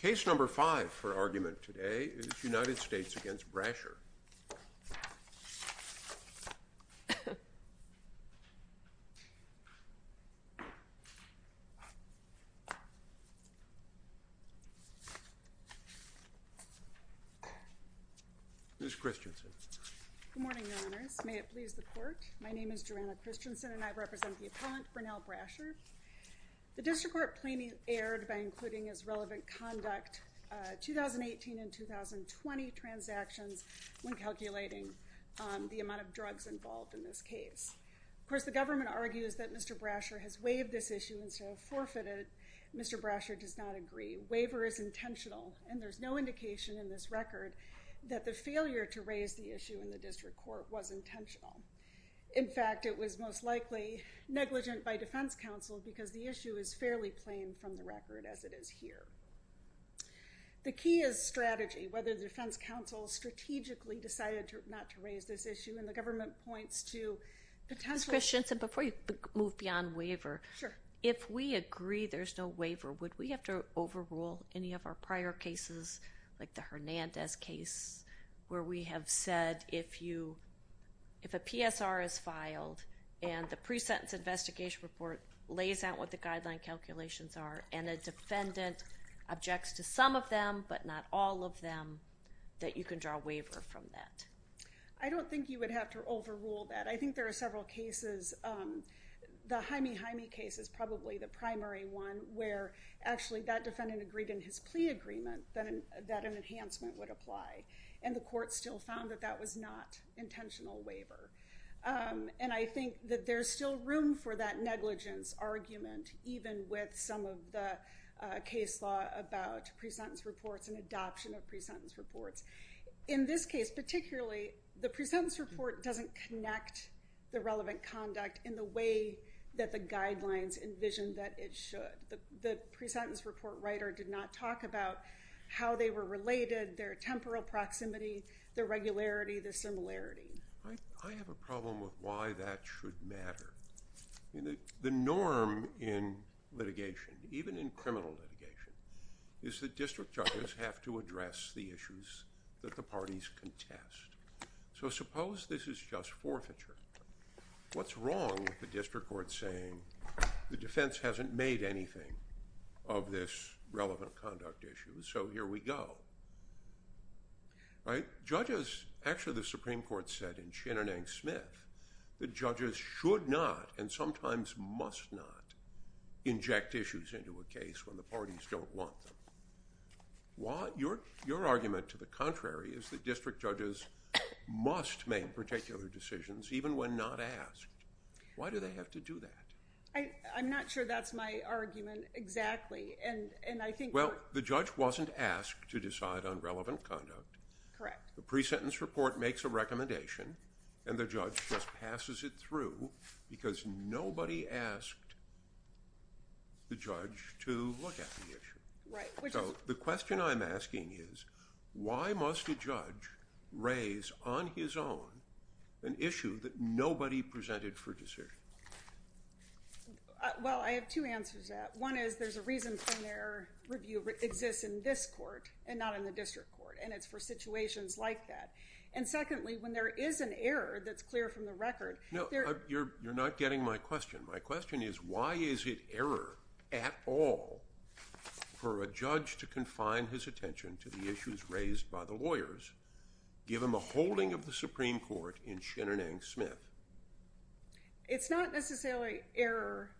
Case number five for argument today is United States against Brasher. Ms. Christensen. Good morning, your honors. May it please the court, my name is Joanna Christensen and I represent the 2018 and 2020 transactions when calculating the amount of drugs involved in this case. Of course, the government argues that Mr. Brasher has waived this issue instead of forfeited. Mr. Brasher does not agree. Waiver is intentional and there's no indication in this record that the failure to raise the issue in the district court was intentional. In fact, it was most likely negligent by defense counsel because the issue is fairly plain from the record as it is here. The key is strategy, whether the defense counsel strategically decided not to raise this issue and the government points to potential... Ms. Christensen, before you move beyond waiver, if we agree there's no waiver, would we have to overrule any of our prior cases like the Hernandez case where we have said if a PSR is filed and the pre-sentence investigation report lays out what the guideline calculations are and a defendant objects to doing that, what are the consequences? To some of them, but not all of them, that you can draw a waiver from that. I don't think you would have to overrule that. I think there are several cases, the Jaime Jaime case is probably the primary one where actually that defendant agreed in his plea agreement that an enhancement would apply and the court still found that that was not intentional waiver. And I think that there's still room for that negligence argument even with some of the case law about pre-sentence reports and adoption of pre-sentence reports. In this case, particularly, the pre-sentence report doesn't connect the relevant conduct in the way that the guidelines envision that it should. The pre-sentence report writer did not talk about how they were related, their temporal proximity, their regularity, their similarity. I have a problem with why that should matter. The norm in litigation, even in criminal litigation, is that district judges have to address the issues that the parties contest. So suppose this is just forfeiture. What's wrong with the district court saying the defense hasn't made anything of this relevant conduct issue, so here we go? Judges, actually the Supreme Court said in Shinanang Smith that judges should not and sometimes must not inject issues into a case when the parties don't want them. Your argument to the contrary is that district judges must make particular decisions even when not asked. Why do they have to do that? I'm not sure that's my argument exactly. Well, the judge wasn't asked to decide on relevant conduct. The pre-sentence report makes a recommendation, and the judge just passes it through because nobody asked the judge to look at the issue. So the question I'm asking is why must a judge raise on his own an issue that nobody presented for decision? Well, I have two answers to that. One is there's a reason for their review exists in this court and not in the district court, and it's for situations like that. And secondly, when there is an error that's clear from the record… No, you're not getting my question. My question is why is it error at all for a judge to confine his attention to the issues raised by the lawyers, given the holding of the Supreme Court in Shinanang Smith? It's not necessarily error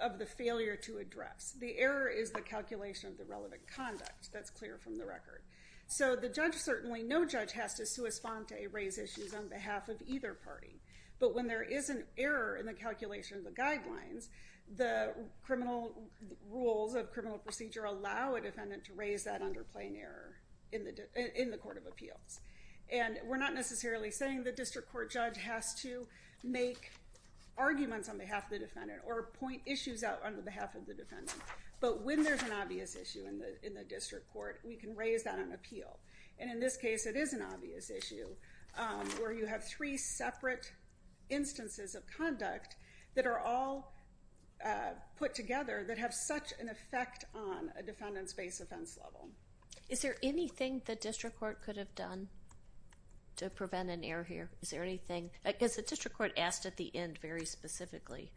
of the failure to address. The error is the calculation of the relevant conduct that's clear from the record. So the judge certainly, no judge has to sua sponte, raise issues on behalf of either party. But when there is an error in the calculation of the guidelines, the criminal rules of criminal procedure allow a defendant to raise that underplaying error in the court of appeals. And we're not necessarily saying the district court judge has to make arguments on behalf of the defendant or point issues out on behalf of the defendant. But when there's an obvious issue in the district court, we can raise that on appeal. And in this case, it is an obvious issue where you have three separate instances of conduct that are all put together that have such an effect on a defendant's base offense level. Is there anything the district court could have done to prevent an error here? Is there anything? Because the district court asked at the end very specifically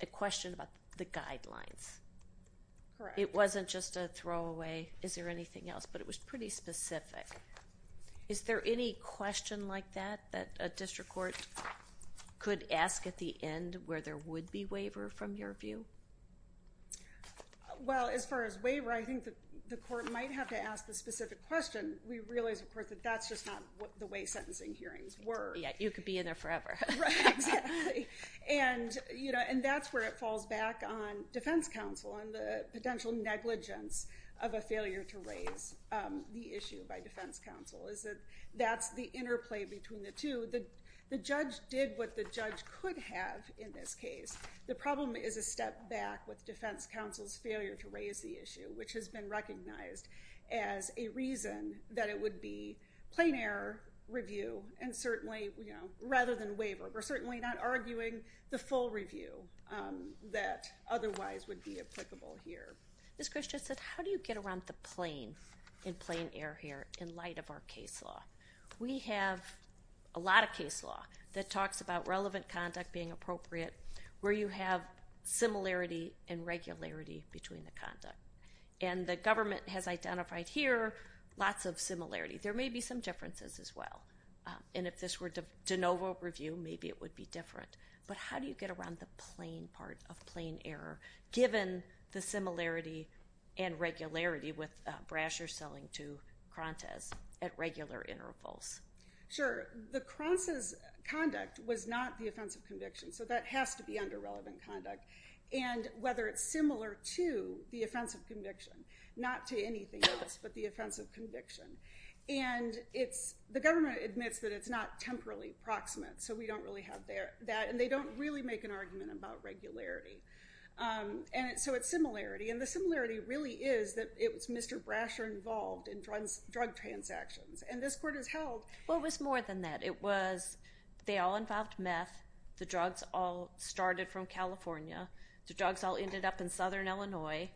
a question about the guidelines. It wasn't just a throw away. Is there anything else? But it was pretty specific. Is there any question like that that a district court could ask at the end where there would be waiver from your view? Well, as far as waiver, I think the court might have to ask the specific question. We realize, of course, that that's just not the way sentencing hearings were. Yeah, you could be in there forever. Right, exactly. And that's where it falls back on defense counsel and the potential negligence of a failure to raise the issue by defense counsel is that that's the interplay between the two. The judge did what the judge could have in this case. The problem is a step back with defense counsel's failure to raise the issue, which has been recognized as a reason that it would be plain error review rather than waiver. We're certainly not arguing the full review that otherwise would be applicable here. Ms. Christiansen, how do you get around the plain in plain error here in light of our case law? We have a lot of case law that talks about relevant conduct being appropriate. Where you have similarity and regularity between the conduct. And the government has identified here lots of similarity. There may be some differences as well. And if this were de novo review, maybe it would be different. But how do you get around the plain part of plain error given the similarity and regularity with Brasher selling to Krontes at regular intervals? Sure. The Krontes' conduct was not the offense of conviction. So that has to be under relevant conduct. And whether it's similar to the offense of conviction. Not to anything else but the offense of conviction. And the government admits that it's not temporally proximate. So we don't really have that. And they don't really make an argument about regularity. And so it's similarity. And the similarity really is that it was Mr. Brasher involved in drug transactions. And this court has held. Well, it was more than that. It was they all involved meth. The drugs all started from California. The drugs all ended up in southern Illinois.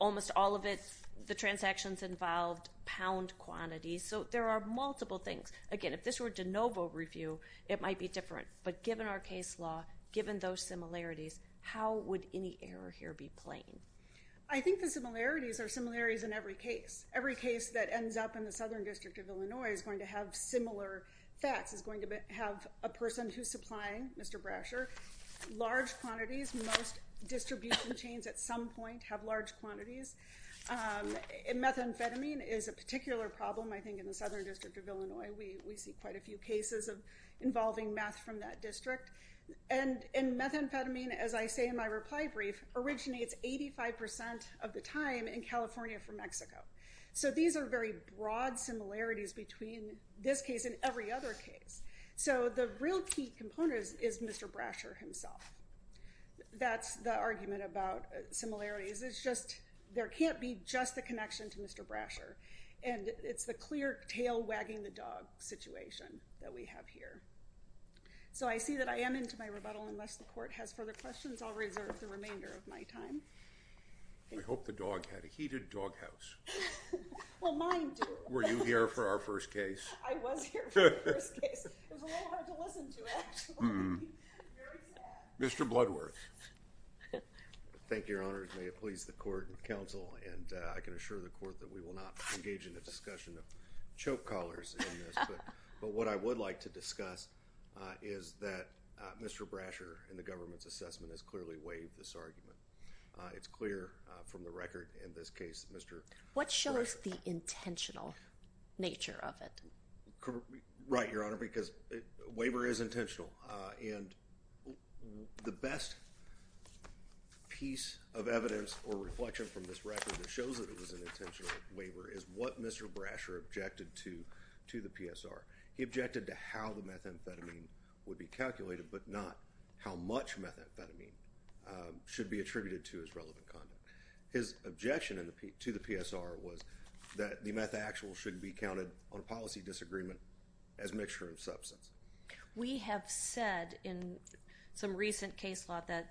Almost all of the transactions involved pound quantities. So there are multiple things. Again, if this were de novo review, it might be different. But given our case law, given those similarities, how would any error here be plain? I think the similarities are similarities in every case. Every case that ends up in the southern district of Illinois is going to have similar facts. It's going to have a person who's supplying, Mr. Brasher, large quantities. Most distribution chains at some point have large quantities. And methamphetamine is a particular problem, I think, in the southern district of Illinois. We see quite a few cases involving meth from that district. And methamphetamine, as I say in my reply brief, originates 85% of the time in California from Mexico. So these are very broad similarities between this case and every other case. So the real key component is Mr. Brasher himself. That's the argument about similarities. It's just there can't be just the connection to Mr. Brasher. And it's the clear tail wagging the dog situation that we have here. So I see that I am into my rebuttal unless the court has further questions. I'll reserve the remainder of my time. I hope the dog had a heated doghouse. Well, mine do. Were you here for our first case? I was here for the first case. It was a little hard to listen to, actually. Very sad. Mr. Bloodworth. Thank you, Your Honors. May it please the court and counsel. And I can assure the court that we will not engage in a discussion of choke collars in this. But what I would like to discuss is that Mr. Brasher, in the government's assessment, has clearly waived this argument. It's clear from the record in this case that Mr. Brasher. What shows the intentional nature of it? Right, Your Honor, because waiver is intentional. And the best piece of evidence or reflection from this record that shows that it was an intentional waiver is what Mr. Brasher objected to to the PSR. He objected to how the methamphetamine would be calculated but not how much methamphetamine should be attributed to as relevant content. His objection to the PSR was that the methaxyl should be counted on a policy disagreement as a mixture of substance. We have said in some recent case law that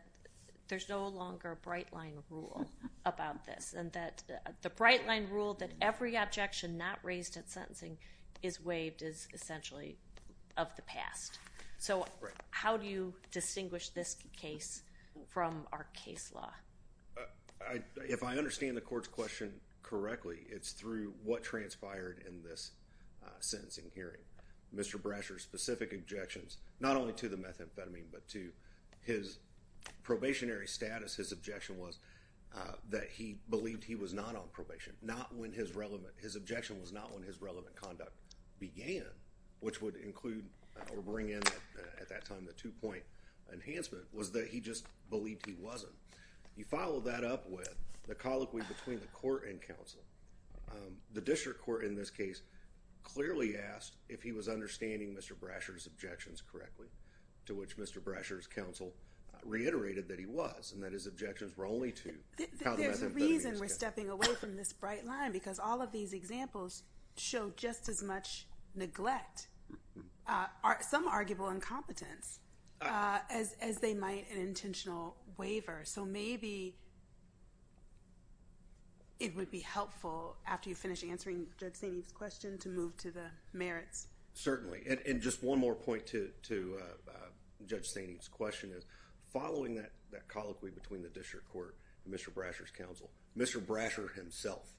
there's no longer a bright line rule about this, and that the bright line rule that every objection not raised at sentencing is waived is essentially of the past. So how do you distinguish this case from our case law? If I understand the court's question correctly, it's through what transpired in this sentencing hearing. Mr. Brasher's specific objections, not only to the methamphetamine, but to his probationary status, his objection was that he believed he was not on probation, not when his relevant, his objection was not when his relevant conduct began, which would include or bring in at that time the two-point enhancement, was that he just believed he wasn't. You follow that up with the colloquy between the court and counsel. The district court in this case clearly asked if he was understanding Mr. Brasher's objections correctly, to which Mr. Brasher's counsel reiterated that he was and that his objections were only to the methamphetamine. There's a reason we're stepping away from this bright line because all of these examples show just as much neglect, some arguable incompetence, as they might an intentional waiver. So maybe it would be helpful after you finish answering Judge St. Eve's question to move to the merits. Certainly. And just one more point to Judge St. Eve's question is following that colloquy between the district court and Mr. Brasher's counsel, Mr. Brasher himself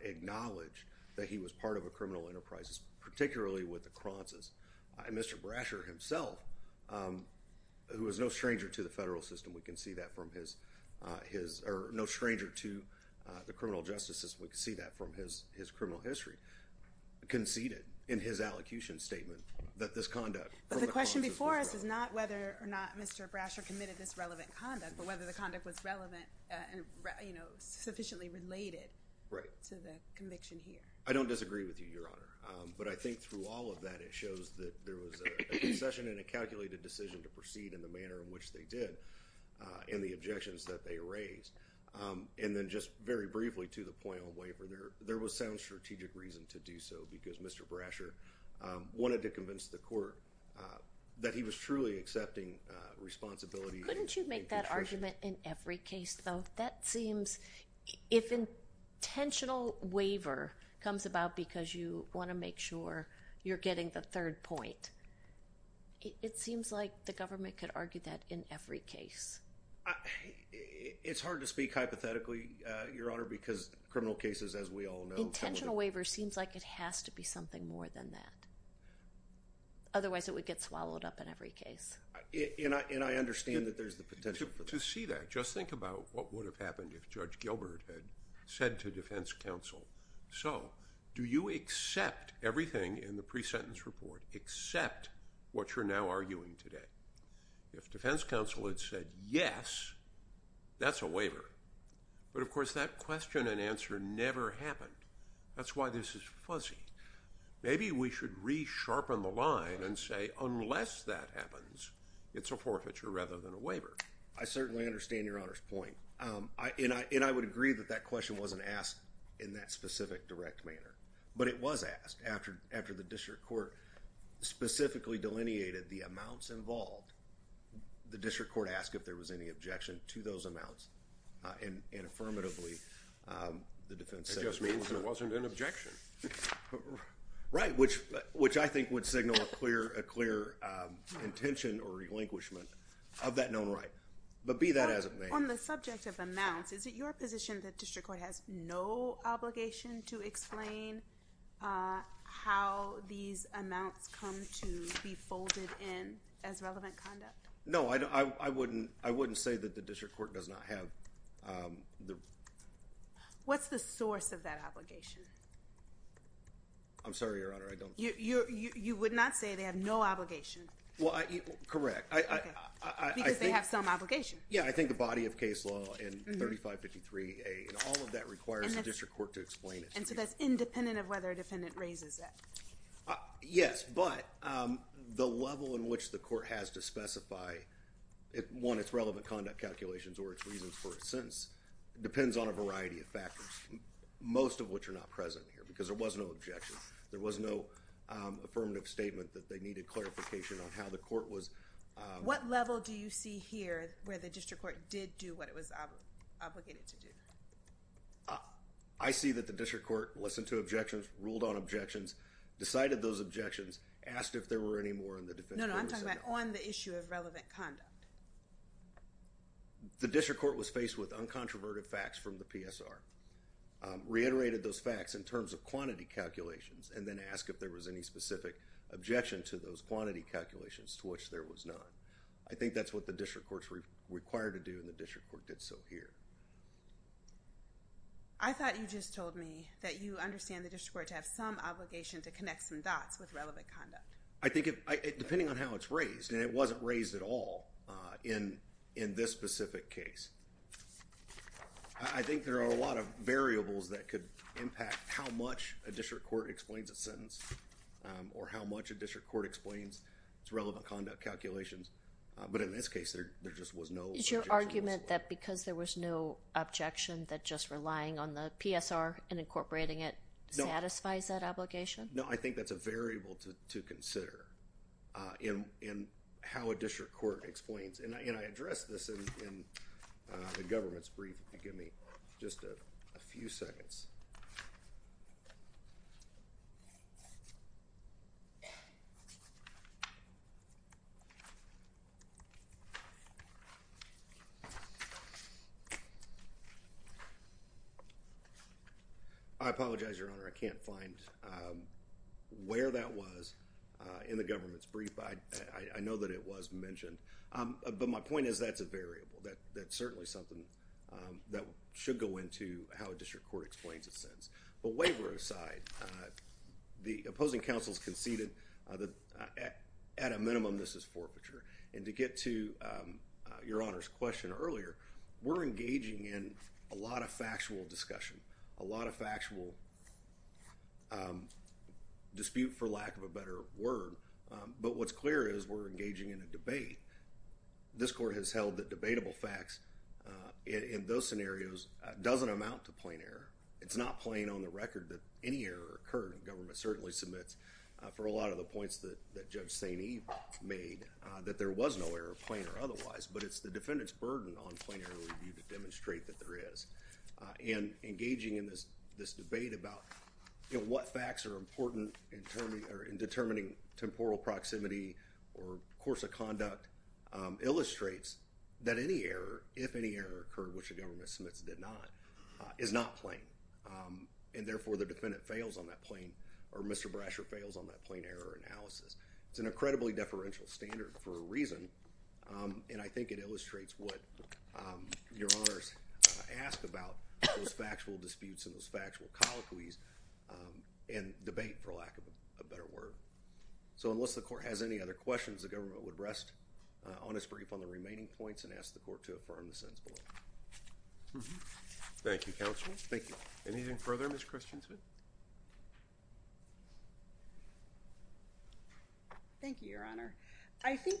acknowledged that he was part of a criminal enterprise, particularly with the Cronces. Mr. Brasher himself, who is no stranger to the federal system, we can see that from his, or no stranger to the criminal justice system, we can see that from his criminal history, conceded in his allocution statement that this conduct. But the question before us is not whether or not Mr. Brasher committed this relevant conduct, but whether the conduct was relevant and sufficiently related to the conviction here. I don't disagree with you, Your Honor, but I think through all of that it shows that there was a concession and a calculated decision to proceed in the manner in which they did and the objections that they raised. And then just very briefly to the point on waiver, there was sound strategic reason to do so, because Mr. Brasher wanted to convince the court that he was truly accepting responsibility. Couldn't you make that argument in every case, though? That seems, if intentional waiver comes about because you want to make sure you're getting the third point, it seems like the government could argue that in every case. It's hard to speak hypothetically, Your Honor, because criminal cases, as we all know. Intentional waiver seems like it has to be something more than that. Otherwise it would get swallowed up in every case. And I understand that there's the potential for that. To see that, just think about what would have happened if Judge Gilbert had said to defense counsel, so do you accept everything in the pre-sentence report except what you're now arguing today? If defense counsel had said yes, that's a waiver. But, of course, that question and answer never happened. That's why this is fuzzy. Maybe we should re-sharpen the line and say unless that happens, it's a forfeiture rather than a waiver. I certainly understand Your Honor's point, and I would agree that that question wasn't asked in that specific direct manner. But it was asked after the district court specifically delineated the amounts involved. The district court asked if there was any objection to those amounts, and affirmatively the defense said there was not. It just means there wasn't an objection. Right, which I think would signal a clear intention or relinquishment of that known right. But be that as it may. On the subject of amounts, is it your position that district court has no obligation to explain how these amounts come to be folded in as relevant conduct? No, I wouldn't say that the district court does not have. What's the source of that obligation? I'm sorry, Your Honor, I don't. You would not say they have no obligation? Well, correct. Because they have some obligation. Yeah, I think the body of case law in 3553A, and all of that requires the district court to explain it. And so that's independent of whether a defendant raises it. Yes, but the level in which the court has to specify, one, its relevant conduct calculations or its reasons for a sentence, depends on a variety of factors. Most of which are not present here, because there was no objection. There was no affirmative statement that they needed clarification on how the court was. What level do you see here where the district court did do what it was obligated to do? I see that the district court listened to objections, ruled on objections, decided those objections, asked if there were any more, and the defendant was sent home. No, no, I'm talking about on the issue of relevant conduct. The district court was faced with uncontroverted facts from the PSR, reiterated those facts in terms of quantity calculations, and then asked if there was any specific objection to those quantity calculations, to which there was none. I think that's what the district court's required to do, and the district court did so here. I thought you just told me that you understand the district court to have some obligation to connect some dots with relevant conduct. I think, depending on how it's raised, and it wasn't raised at all in this specific case, I think there are a lot of variables that could impact how much a district court explains a sentence, or how much a district court explains its relevant conduct calculations. But in this case, there just was no objection. Is your argument that because there was no objection, that just relying on the PSR and incorporating it satisfies that obligation? No, I think that's a variable to consider in how a district court explains. And I addressed this in the government's brief, if you'll give me just a few seconds. I apologize, Your Honor, I can't find where that was in the government's brief. I know that it was mentioned, but my point is that's a variable. That's certainly something that should go into how a district court explains a sentence. But waiver aside, the opposing counsels conceded that, at a minimum, this is forfeiture. And to get to Your Honor's question earlier, we're engaging in a lot of factual discussion, a lot of factual dispute, for lack of a better word. But what's clear is we're engaging in a debate. This court has held that debatable facts in those scenarios doesn't amount to plain error. It's not plain on the record that any error occurred. The government certainly submits, for a lot of the points that Judge St. Eve made, that there was no error, plain or otherwise. But it's the defendant's burden on plain error review to demonstrate that there is. And engaging in this debate about what facts are important in determining temporal proximity or course of conduct illustrates that any error, if any error occurred, which the government submits did not, is not plain. And therefore, the defendant fails on that plain, or Mr. Brasher fails on that plain error analysis. It's an incredibly deferential standard for a reason. And I think it illustrates what Your Honors ask about those factual disputes and those factual colloquies and debate, for lack of a better word. So unless the court has any other questions, the government would rest on its brief on the remaining points and ask the court to affirm the sentence below. Thank you, Counsel. Thank you. Anything further, Ms. Christiansen? Thank you, Your Honor. I think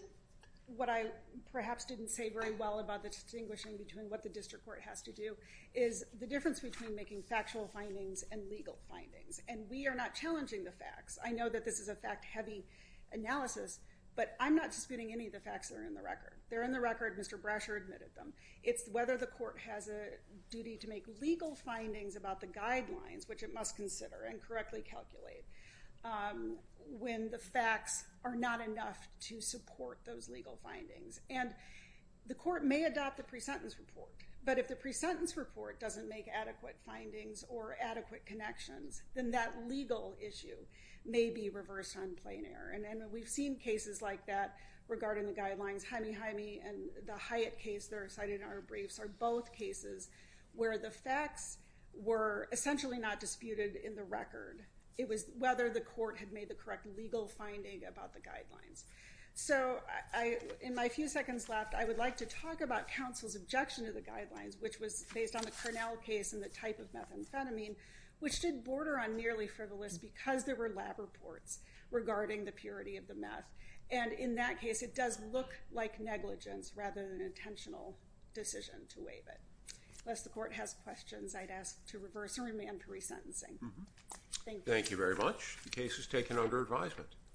what I perhaps didn't say very well about the distinguishing between what the district court has to do is the difference between making factual findings and legal findings. And we are not challenging the facts. I know that this is a fact-heavy analysis, but I'm not disputing any of the facts that are in the record. They're in the record. Mr. Brasher admitted them. It's whether the court has a duty to make legal findings about the guidelines, which it must consider and correctly calculate, when the facts are not enough to support those legal findings. And the court may adopt the pre-sentence report, but if the pre-sentence report doesn't make adequate findings or adequate connections, then that legal issue may be reversed on plain error. And we've seen cases like that regarding the guidelines. Jaime Jaime and the Hyatt case that are cited in our briefs are both cases where the facts were essentially not disputed in the record. It was whether the court had made the correct legal finding about the guidelines. So in my few seconds left, I would like to talk about counsel's objection to the guidelines, which was based on the Cornell case and the type of methamphetamine, which did border on nearly frivolous because there were lab reports regarding the purity of the meth. And in that case, it does look like negligence rather than intentional decision to waive it. Unless the court has questions, I'd ask to reverse and remand pre-sentencing. Thank you. Thank you very much. The case is taken under advisement.